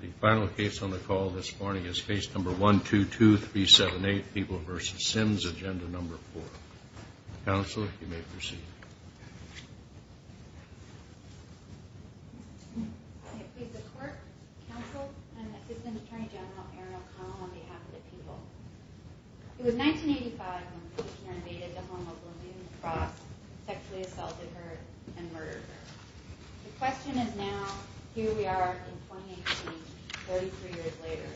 The final case on the call this morning is Case No. 122378, People v. Simms, Agenda No. 4. Counsel, you may proceed. I plead the court, counsel, and Assistant Attorney General Erin O'Connell on behalf of the people. It was 1985 when the commissioner invaded the home of Lillian Frost, sexually assaulted her, and murdered her. The question is now, here we are in 2018, 33 years later.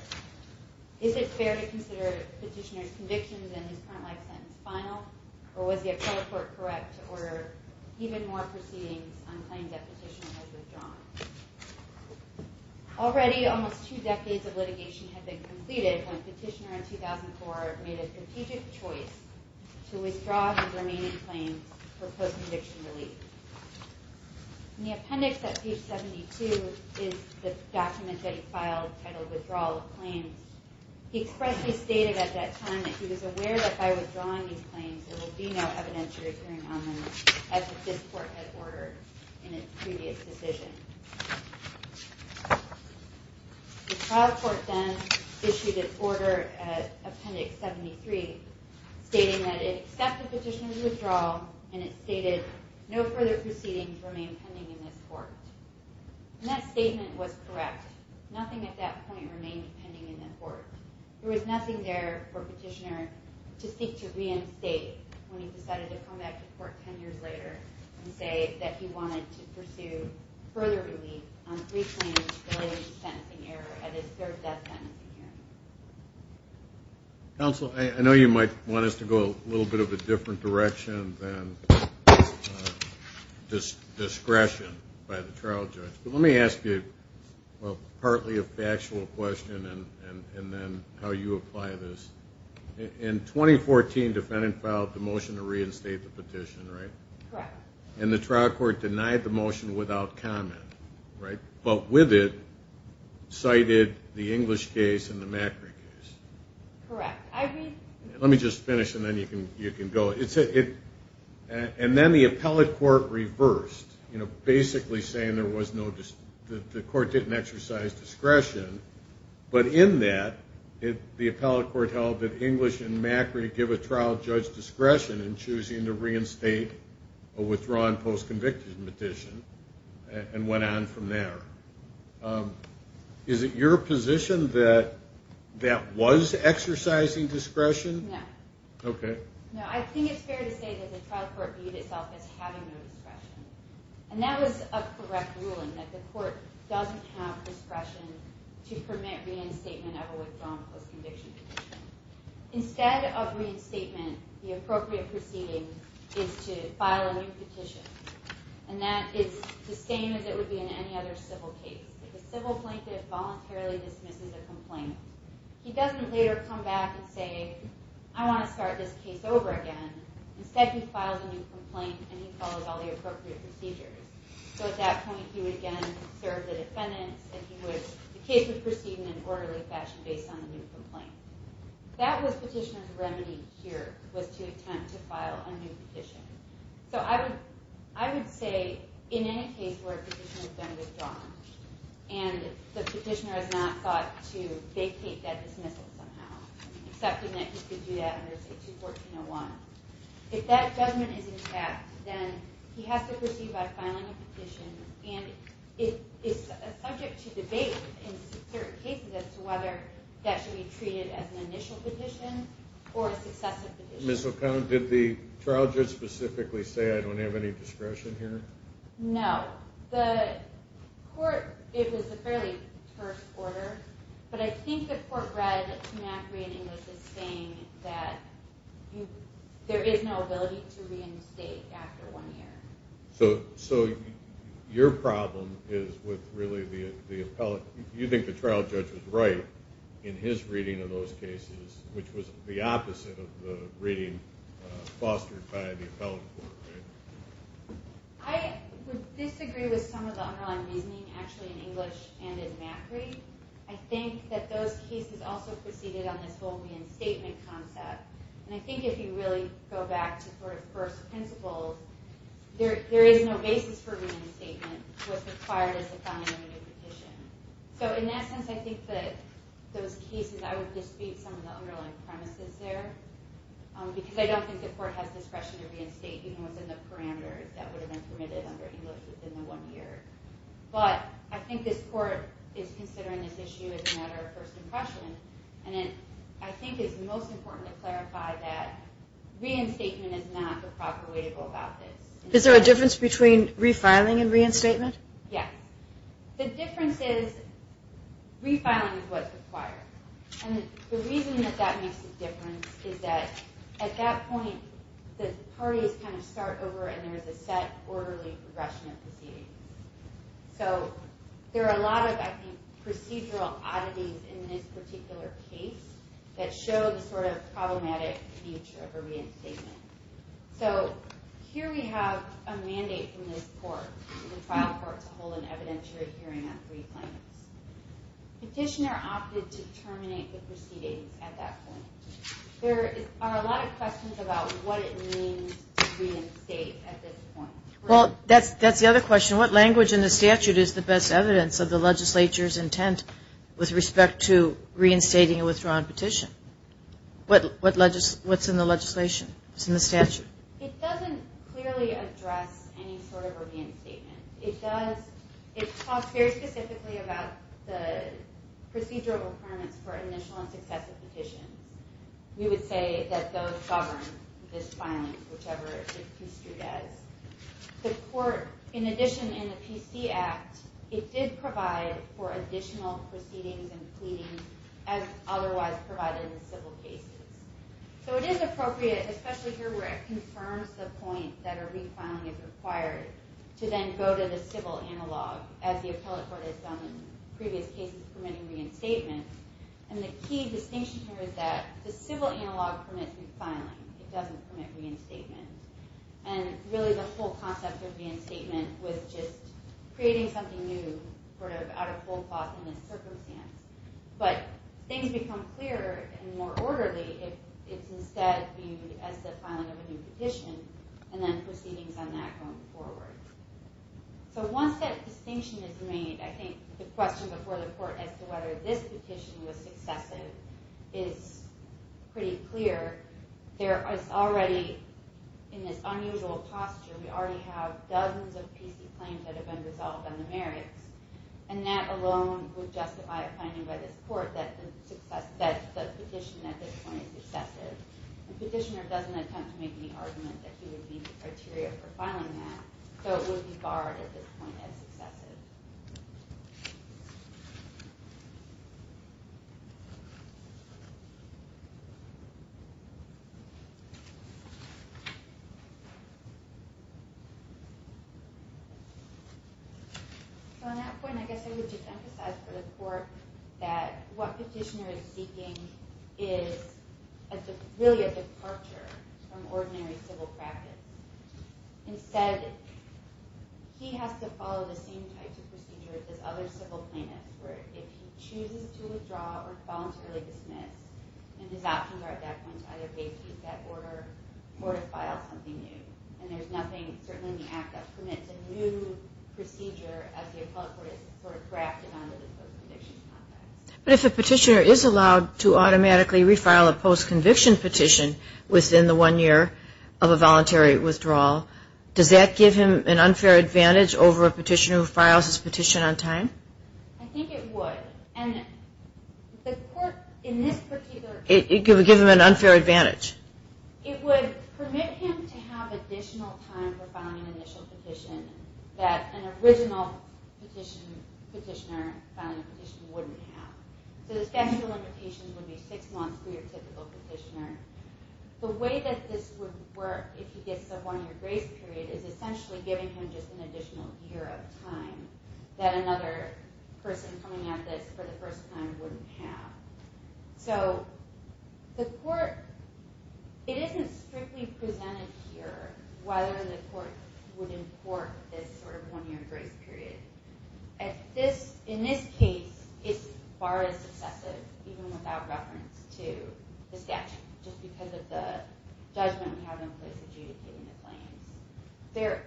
Is it fair to consider Petitioner's convictions in his current life sentence final? Or was the appellate court correct to order even more proceedings on claims that Petitioner has withdrawn? Already, almost two decades of litigation had been completed when Petitioner in 2004 made a strategic choice to withdraw his remaining claims for post-conviction relief. In the appendix at page 72 is the document that he filed titled Withdrawal of Claims. He expressly stated at that time that he was aware that by withdrawing these claims, there would be no evidentiary hearing on them, as this court had ordered in its previous decision. The trial court then issued its order at appendix 73 stating that it accepted Petitioner's withdrawal and it stated no further proceedings remain pending in this court. And that statement was correct. Nothing at that point remained pending in the court. There was nothing there for Petitioner to seek to reinstate when he decided to come back to court 10 years later and say that he wanted to pursue further relief on three claims below his sentencing error at his third death sentencing hearing. Counsel, I know you might want us to go a little bit of a different direction than discretion by the trial judge. But let me ask you, well, partly a factual question and then how you apply this. In 2014, defendant filed the motion to reinstate the petition, right? Correct. And the trial court denied the motion without comment, right? But with it, cited the English case and the Macri case. Correct. Let me just finish and then you can go. And then the appellate court reversed, basically saying the court didn't exercise discretion. But in that, the appellate court held that English and Macri give a trial judge discretion in choosing to reinstate a withdrawn post-conviction petition and went on from there. Is it your position that that was exercising discretion? No. Okay. No, I think it's fair to say that the trial court viewed itself as having no discretion. And that was a correct ruling, that the court doesn't have discretion to permit reinstatement of a withdrawn post-conviction petition. Instead of reinstatement, the appropriate proceeding is to file a new petition. And that is the same as it would be in any other civil case. The civil plaintiff voluntarily dismisses a complaint. He doesn't later come back and say, I want to start this case over again. Instead, he files a new complaint and he follows all the appropriate procedures. So at that point, he would again serve the defendants. And the case would proceed in an orderly fashion based on the new complaint. That was petitioner's remedy here, was to attempt to file a new petition. So I would say, in any case where a petitioner has been withdrawn, and the petitioner has not thought to vacate that dismissal somehow, accepting that he could do that under, say, 214.01, if that judgment is intact, then he has to proceed by filing a petition. And it is subject to debate in certain cases as to whether that should be treated as an initial petition or a successive petition. Ms. O'Connor, did the trial judge specifically say, I don't have any discretion here? No. The court, it was a fairly first order. But I think the court read to Macri and English as saying that there is no ability to reinstate after one year. So your problem is with really the appellate. You think the trial judge was right in his reading of those cases, which was the opposite of the reading fostered by the appellate court, right? I would disagree with some of the underlying reasoning, actually, in English and in Macri. I think that those cases also proceeded on this whole reinstatement concept. And I think if you really go back to sort of first principles, there is no basis for reinstatement, what's required is to file a new petition. So in that sense, I think that those cases, I would dispute some of the underlying premises there, because I don't think the court has discretion to reinstate even within the parameters that would have been permitted under English within the one year. But I think this court is considering this issue as a matter of first impression. And I think it's most important to clarify that reinstatement is not the proper way to go about this. Is there a difference between refiling and reinstatement? Yeah. The difference is refiling is what's required. And the reason that that makes a difference is that at that point, the parties kind of start over and there is a set orderly progression of proceedings. So there are a lot of, I think, procedural oddities in this particular case that show the sort of problematic future of a reinstatement. So here we have a mandate from this court, the trial court, to hold an evidentiary hearing on three claims. Petitioner opted to terminate the proceedings at that point. There are a lot of questions about what it means to reinstate at this point. Well, that's the other question. What language in the statute is the best evidence of the legislature's intent with respect to reinstating a withdrawn petition? What's in the legislation? What's in the statute? It doesn't clearly address any sort of reinstatement. It talks very specifically about the procedural requirements for initial and successive petitions. We would say that those govern this filing, whichever it's construed as. The court, in addition in the PC Act, it did provide for additional proceedings and pleadings as otherwise provided in civil cases. So it is appropriate, especially here where it confirms the point that a refiling is required, to then go to the civil analog, as the appellate court has done in previous cases permitting reinstatement. The key distinction here is that the civil analog permits refiling. It doesn't permit reinstatement. Really, the whole concept of reinstatement was just creating something new out of whole cloth in this circumstance. But things become clearer and more orderly if it's instead viewed as the filing of a new petition and then proceedings on that going forward. Once that distinction is made, I think the question before the court as to whether this petition was successive is pretty clear. It's already in this unusual posture. We already have dozens of PC claims that have been resolved on the merits, and that alone would justify a finding by this court that the petition at this point is successive. The petitioner doesn't attempt to make any argument that he would meet the criteria for filing that, so it would be barred at this point as successive. So on that point, I guess I would just emphasize for the court that what petitioner is seeking is really a departure from ordinary civil practice. Instead, he has to follow the same types of procedures he has to follow the same types of procedures if he chooses to withdraw or voluntarily dismiss, and his options are at that point to either vacate that order or to file something new. And there's nothing, certainly in the Act, that permits a new procedure as the appellate court has sort of grafted onto the post-conviction process. But if a petitioner is allowed to automatically refile a post-conviction petition within the one year of a voluntary withdrawal, does that give him an unfair advantage over a petitioner who files his petition on time? I think it would. And the court, in this particular case... It would give him an unfair advantage. It would permit him to have additional time for filing an initial petition that an original petitioner filing a petition wouldn't have. So the statute of limitations would be six months for your typical petitioner. The way that this would work, if he gets a one-year grace period, is essentially giving him just an additional year of time that another person coming at this for the first time wouldn't have. So the court... It isn't strictly presented here whether the court would import this sort of one-year grace period. In this case, it's far less excessive, even without reference to the statute, just because of the judgment we have in place adjudicating the claims. There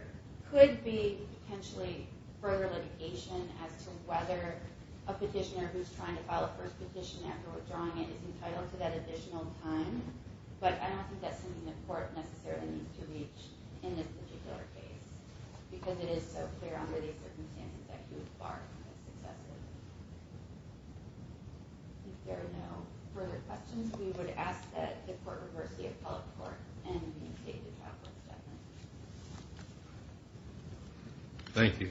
could be potentially further litigation as to whether a petitioner who's trying to file a first petition after withdrawing it is entitled to that additional time. But I don't think that's something the court necessarily needs to reach in this particular case, because it is so clear under these circumstances that he would bar it from being excessive. If there are no further questions, we would ask that the court reverse the appellate court and vacate the appellate settlement. Thank you.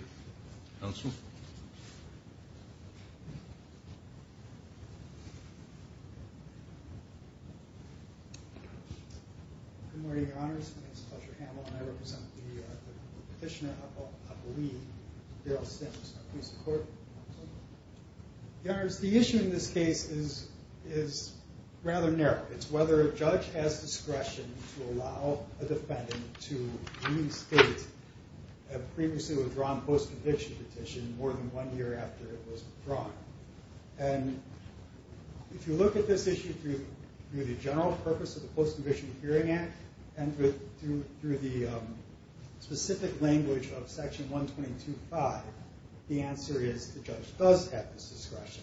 Good morning, Your Honors. My name is Fletcher Hamel, and I represent the petitioner of Lee, Darrell Sims. Please support me, Your Honors. The issue in this case is rather narrow. It's whether a judge has discretion to allow a defendant to restate a previously withdrawn post-conviction petition more than one year after it was withdrawn. And if you look at this issue through the general purpose of the Post-Conviction Hearing Act and through the specific language of Section 122.5, the answer is the judge does have this discretion.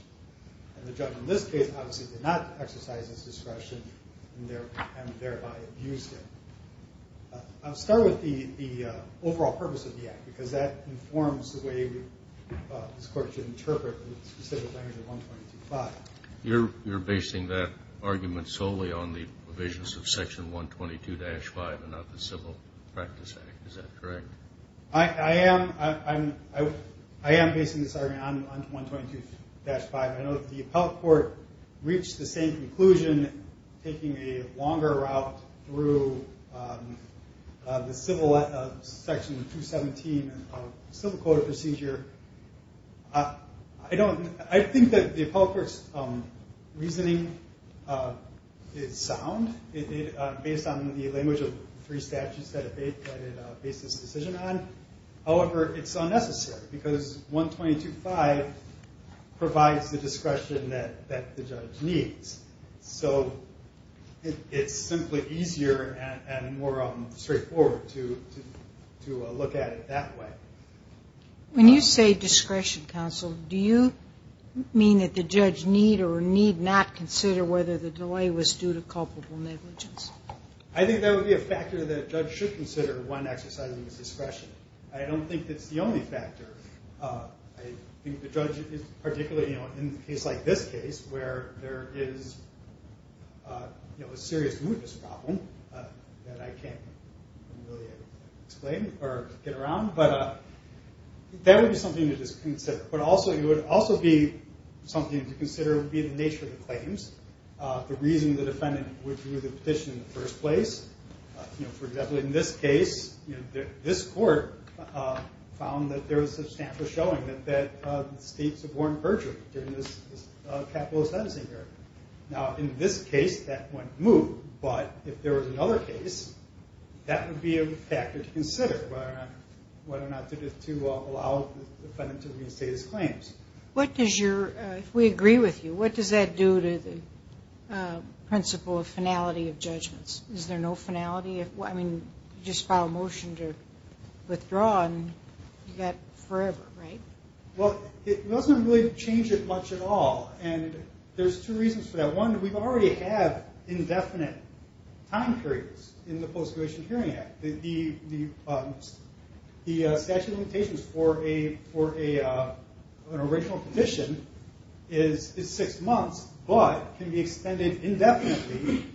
And the judge in this case obviously did not exercise this discretion and thereby abused it. I'll start with the overall purpose of the act, because that informs the way this court should interpret the specific language of 122.5. You're basing that argument solely on the provisions of Section 122-5 and not the Civil Practice Act. Is that correct? I am basing this argument on 122-5. I know that the appellate court reached the same conclusion taking a longer route through the Civil Section 217 of the Civil Code of Procedure. I think that the appellate court's reasoning is sound. Based on the language of the three statutes that it based this decision on. However, it's unnecessary because 122.5 provides the discretion that the judge needs. So it's simply easier and more straightforward to look at it that way. When you say discretion, counsel, do you mean that the judge need or need not consider whether the delay was due to culpable negligence? I think that would be a factor that a judge should consider when exercising his discretion. I don't think that's the only factor. I think the judge, particularly in a case like this case, where there is a serious mootness problem that I can't really explain or get around. That would be something to just consider. But it would also be something to consider the nature of the claims. The reason the defendant would do the petition in the first place. For example, in this case, this court found that there was substantial showing that the state suborned Berger during this capitalist legacy period. Now, in this case, that went moot. But if there was another case, that would be a factor to consider, whether or not to allow the defendant to restate his claims. If we agree with you, what does that do to the principle of finality of judgments? Is there no finality? I mean, you just file a motion to withdraw and you've got forever, right? Well, it doesn't really change it much at all. And there's two reasons for that. One, we already have indefinite time periods in the Post-Graduation Hearing Act. The statute of limitations for an original petition is six months, but can be extended indefinitely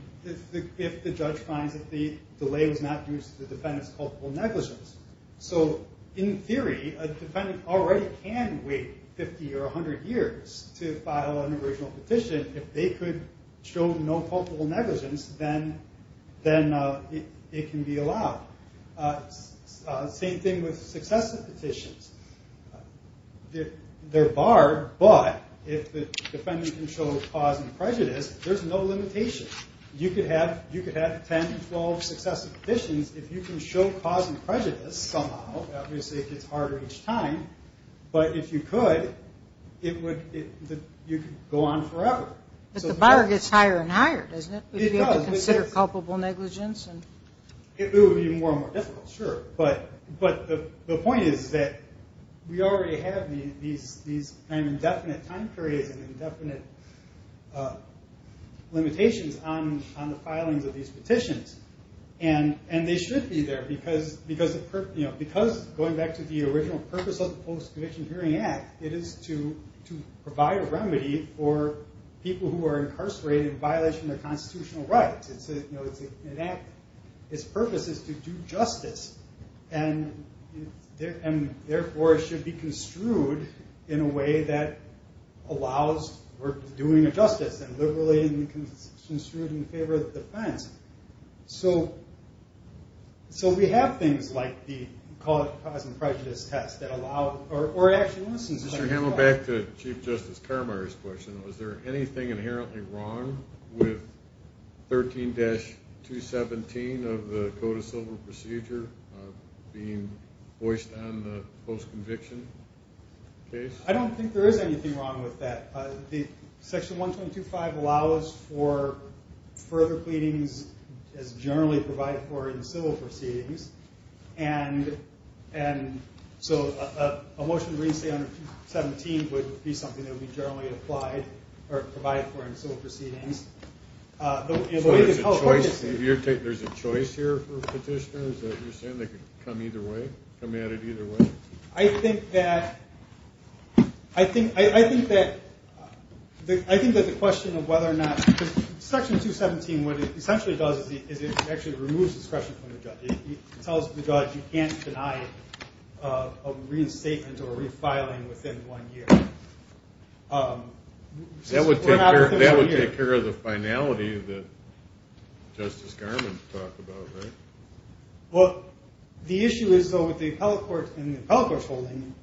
if the judge finds that the delay was not due to the defendant's culpable negligence. So, in theory, a defendant already can wait 50 or 100 years to file an original petition if they could show no culpable negligence, then it can be allowed. Same thing with successive petitions. They're barred, but if the defendant can show cause and prejudice, there's no limitation. You could have 10 or 12 successive petitions if you can show cause and prejudice somehow. Obviously, it gets harder each time. But if you could, you could go on forever. But the bar gets higher and higher, doesn't it? It does. Would you be able to consider culpable negligence? It would be more and more difficult, sure. But the point is that we already have these indefinite time periods and indefinite limitations on the filings of these petitions. And they should be there because, going back to the original purpose of the Post-Conviction Hearing Act, it is to provide a remedy for people who are incarcerated in violation of their constitutional rights. Its purpose is to do justice. And therefore, it should be construed in a way that allows for doing justice and liberally construed in favor of the defense. So we have things like the cause and prejudice test that allow, or actually listens. Mr. Hamill, back to Chief Justice Carmeier's question, was there anything inherently wrong with 13-217 of the Code of Civil Procedure being voiced on the post-conviction case? I don't think there is anything wrong with that. Section 122.5 allows for further pleadings as generally provided for in civil proceedings. And so a motion to reinstate 13-217 would be something that would be generally applied or provided for in civil proceedings. So there's a choice here for petitioners? You're saying they could come at it either way? I think that the question of whether or not, because Section 217, what it essentially does is it actually removes discretion from the judge. It tells the judge you can't deny a reinstatement or refiling within one year. That would take care of the finality that Justice Garment talked about, right? Well, the issue is, though, with the appellate court and the appellate court's holding,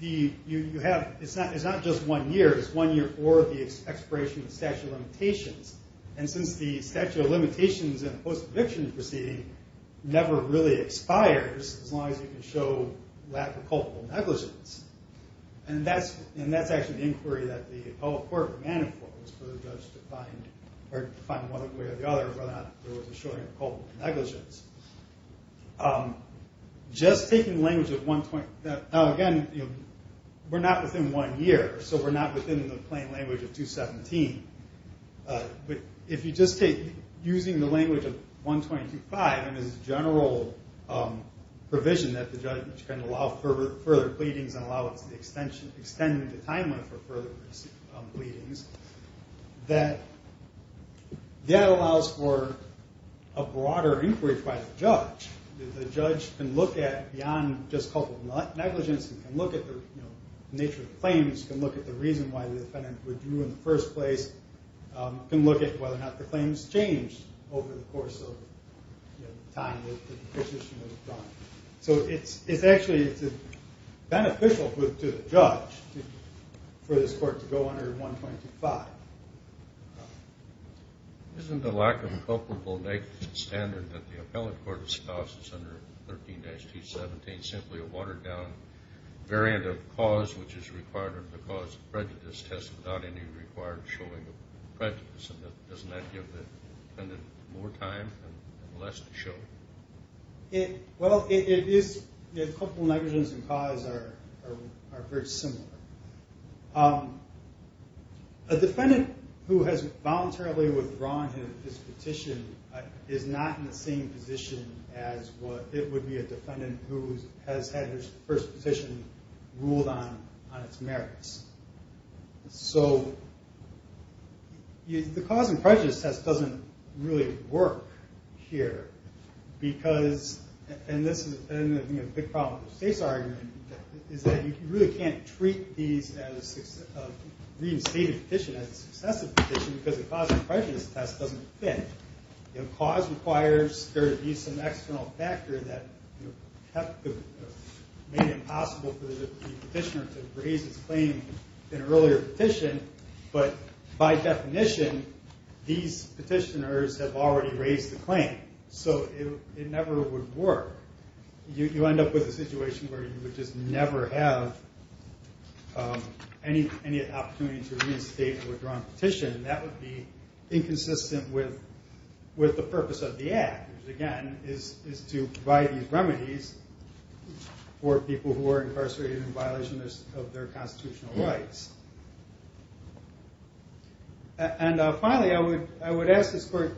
it's not just one year. It's one year for the expiration of the statute of limitations. And since the statute of limitations in a post-conviction proceeding never really expires as long as you can show lack of culpable negligence. And that's actually an inquiry that the appellate court demanded for, was for the judge to find one way or the other whether or not there was a showing of culpable negligence. Just taking the language of 125. Now, again, we're not within one year, so we're not within the plain language of 217. But if you just take using the language of 125 and its general provision that the judge can allow further pleadings and allow it to extend the time limit for further pleadings, that that allows for a broader inquiry by the judge. The judge can look at beyond just culpable negligence and can look at the nature of the claims, can look at the reason why the defendant withdrew in the first place, can look at whether or not the claims changed over the course of time that the petition was done. So it's actually beneficial to the judge for this court to go under 125. Isn't the lack of culpable negligence standard that the appellate court discusses under 13-17 simply a watered-down variant of cause which is required of the cause of prejudice test without any required showing of prejudice? And doesn't that give the defendant more time and less to show? Well, culpable negligence and cause are very similar. A defendant who has voluntarily withdrawn his petition is not in the same position as what it would be a defendant who has had his first petition ruled on its merits. So the cause and prejudice test doesn't really work here. And this is a big problem with the state's argument is that you really can't treat a reinstated petition as a successive petition because the cause and prejudice test doesn't fit. Cause requires there to be some external factor that made it impossible for the petitioner to raise his claim in an earlier petition. But by definition, these petitioners have already raised the claim. So it never would work. You end up with a situation where you would just never have any opportunity to reinstate a withdrawn petition. That would be inconsistent with the purpose of the act which again is to provide these remedies for people who are incarcerated in violation of their constitutional rights. And finally, I would ask this court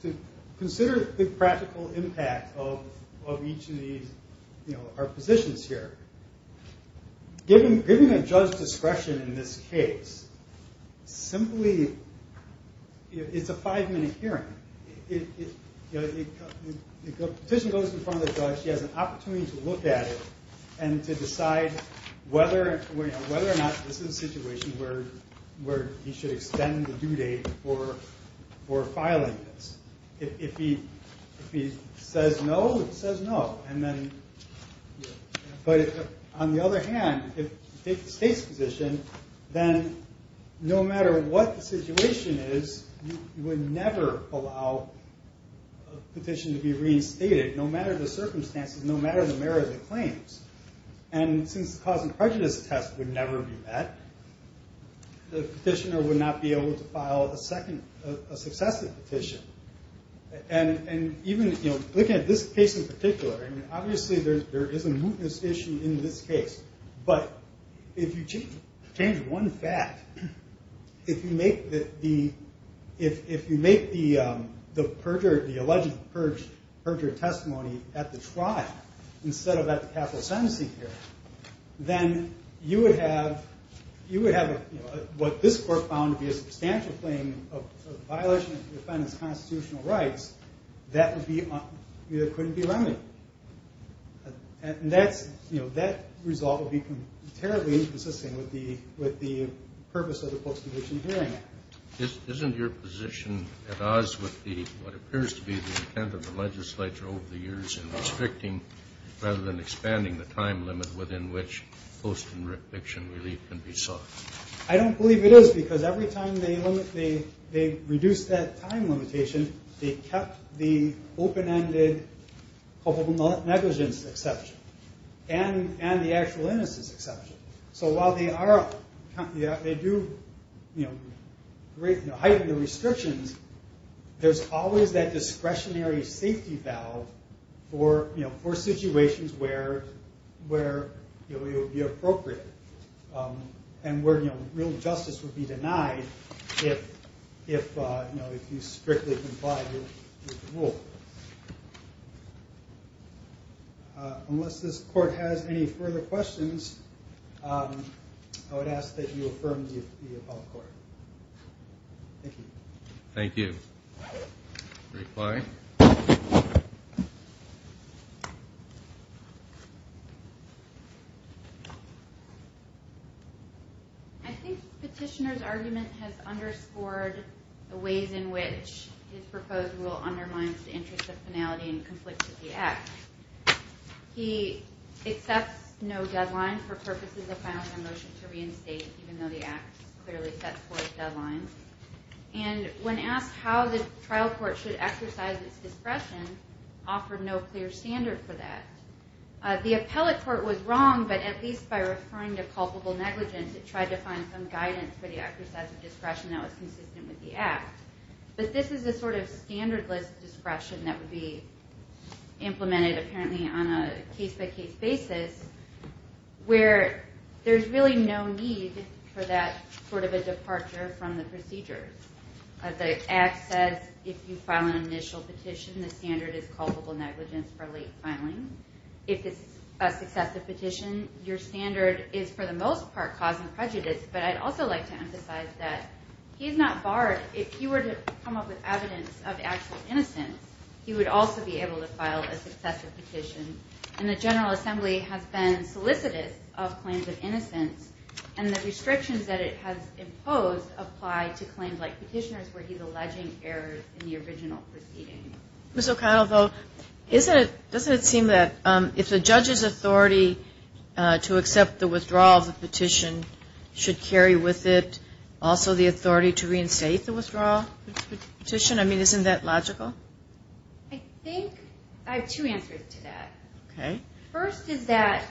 to consider the practical impact of each of these, you know, our positions here. Given a judge's discretion in this case, simply, it's a five minute hearing. The petition goes in front of the judge, he has an opportunity to look at it and to decide whether or not this is a situation where he should extend the due date for filing this. If he says no, he says no. But on the other hand, if you take the state's position, then no matter what the situation is, you would never allow a petition to be reinstated no matter the circumstances, no matter the merit of the claims. And since the cause and prejudice test would never be met, the petitioner would not be able to file a successive petition. And even looking at this case in particular, obviously there is a mootness issue in this case. But if you change one fact, if you make the alleged perjured testimony at the trial instead of at the capital sentencing hearing, then you would have what this court found to be a substantial claim of violation of defendant's constitutional rights that couldn't be remedied. And that result would be terribly inconsistent with the purpose of the post-conviction hearing. Isn't your position at odds with what appears to be the intent of the legislature over the years in restricting rather than expanding the time limit within which post-conviction relief can be sought? I don't believe it is, because every time they reduced that time limitation, they kept the open-ended culpable negligence exception and the actual innocence exception. So while they do heighten the restrictions, there's always that discretionary safety valve for situations where it would be appropriate and where real justice would be denied if you strictly comply with the rule. Unless this court has any further questions, I would ask that you affirm the above court. Thank you. Thank you. Reply. I think Petitioner's argument has underscored the ways in which his proposed rule undermines the interest of finality and conflict with the Act. He accepts no deadline for purposes of final motion to reinstate, even though the Act clearly sets forth deadlines. And when asked how the trial court should exercise its discretion, offered no clear standard for that. The appellate court was wrong, but at least by referring to culpable negligence, it tried to find some guidance for the exercise of discretion that was consistent with the Act. But this is a sort of standardless discretion that would be implemented apparently on a case-by-case basis, where there's really no need for that sort of a departure from the procedure. The Act says if you file an initial petition, the standard is culpable negligence for late filing. If it's a successive petition, your standard is for the most part cause and prejudice. But I'd also like to emphasize that he's not barred. If he were to come up with evidence of actual innocence, he would also be able to file a successive petition. And the General Assembly has been solicitous of claims of innocence, and the restrictions that it has imposed apply to claims like petitioners where he's alleging errors in the original proceeding. Ms. O'Connell, though, doesn't it seem that if the judge's authority to accept the withdrawal of the petition should carry with it also the authority to reinstate the withdrawal of the petition? I mean, isn't that logical? I think I have two answers to that. Okay. First is that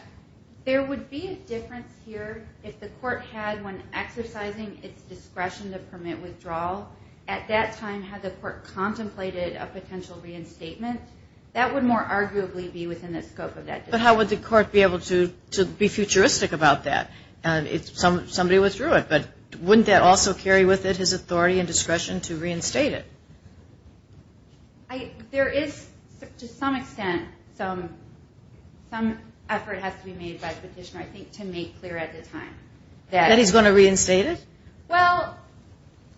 there would be a difference here if the court had when exercising its discretion to permit withdrawal, at that time had the court contemplated a potential reinstatement. That would more arguably be within the scope of that. But how would the court be able to be futuristic about that if somebody withdrew it? But wouldn't that also carry with it his authority and discretion to reinstate it? There is to some extent some effort has to be made by the petitioner, I think, to make clear at the time. That he's going to reinstate it? Well,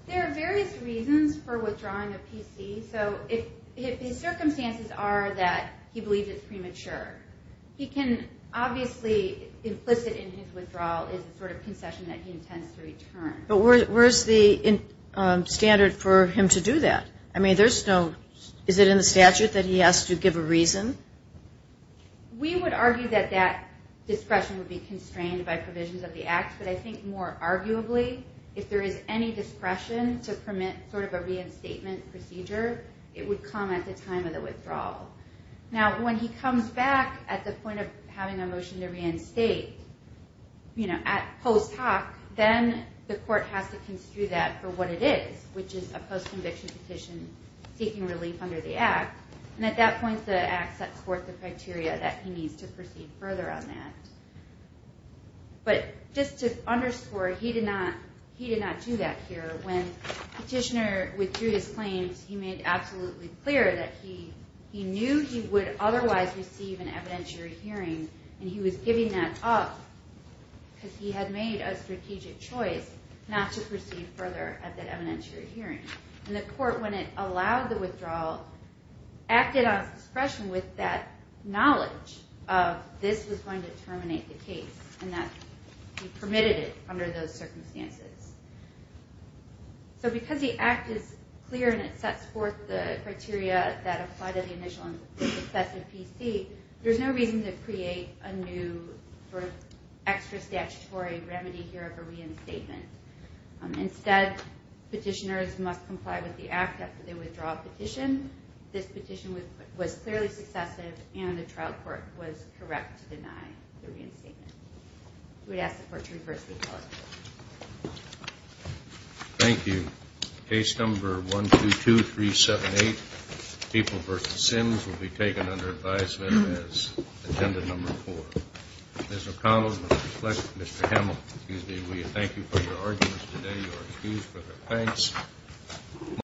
there are various reasons for withdrawing a PC. So if his circumstances are that he believes it's premature, he can obviously implicit in his withdrawal is the sort of concession that he intends to return. But where's the standard for him to do that? I mean, is it in the statute that he has to give a reason? We would argue that that discretion would be constrained by provisions of the act, but I think more arguably if there is any discretion to permit sort of a reinstatement procedure, it would come at the time of the withdrawal. Now, when he comes back at the point of having a motion to reinstate, you know, at post hoc, then the court has to construe that for what it is, which is a post-conviction petition seeking relief under the act. And at that point, the act sets forth the criteria that he needs to proceed further on that. But just to underscore, he did not do that here. When the petitioner withdrew his claims, he made absolutely clear that he knew he would otherwise receive an evidentiary hearing, and he was giving that up because he had made a strategic choice not to proceed further at that evidentiary hearing. And the court, when it allowed the withdrawal, acted on his discretion with that knowledge of this was going to terminate the case and that he permitted it under those circumstances. So because the act is clear and it sets forth the criteria that apply to the initial excessive PC, there's no reason to create a new sort of extra statutory remedy here of a reinstatement. Instead, petitioners must comply with the act after they withdraw a petition. This petition was clearly successive, and the trial court was correct to deny the reinstatement. We'd ask the court to reverse the call. Thank you. Case number 122378, People v. Sims, will be taken under advisement as agenda number four. Ms. O'Connell, Mr. Fleck, Mr. Hamill, we thank you for your arguments today. You are excused for their thanks.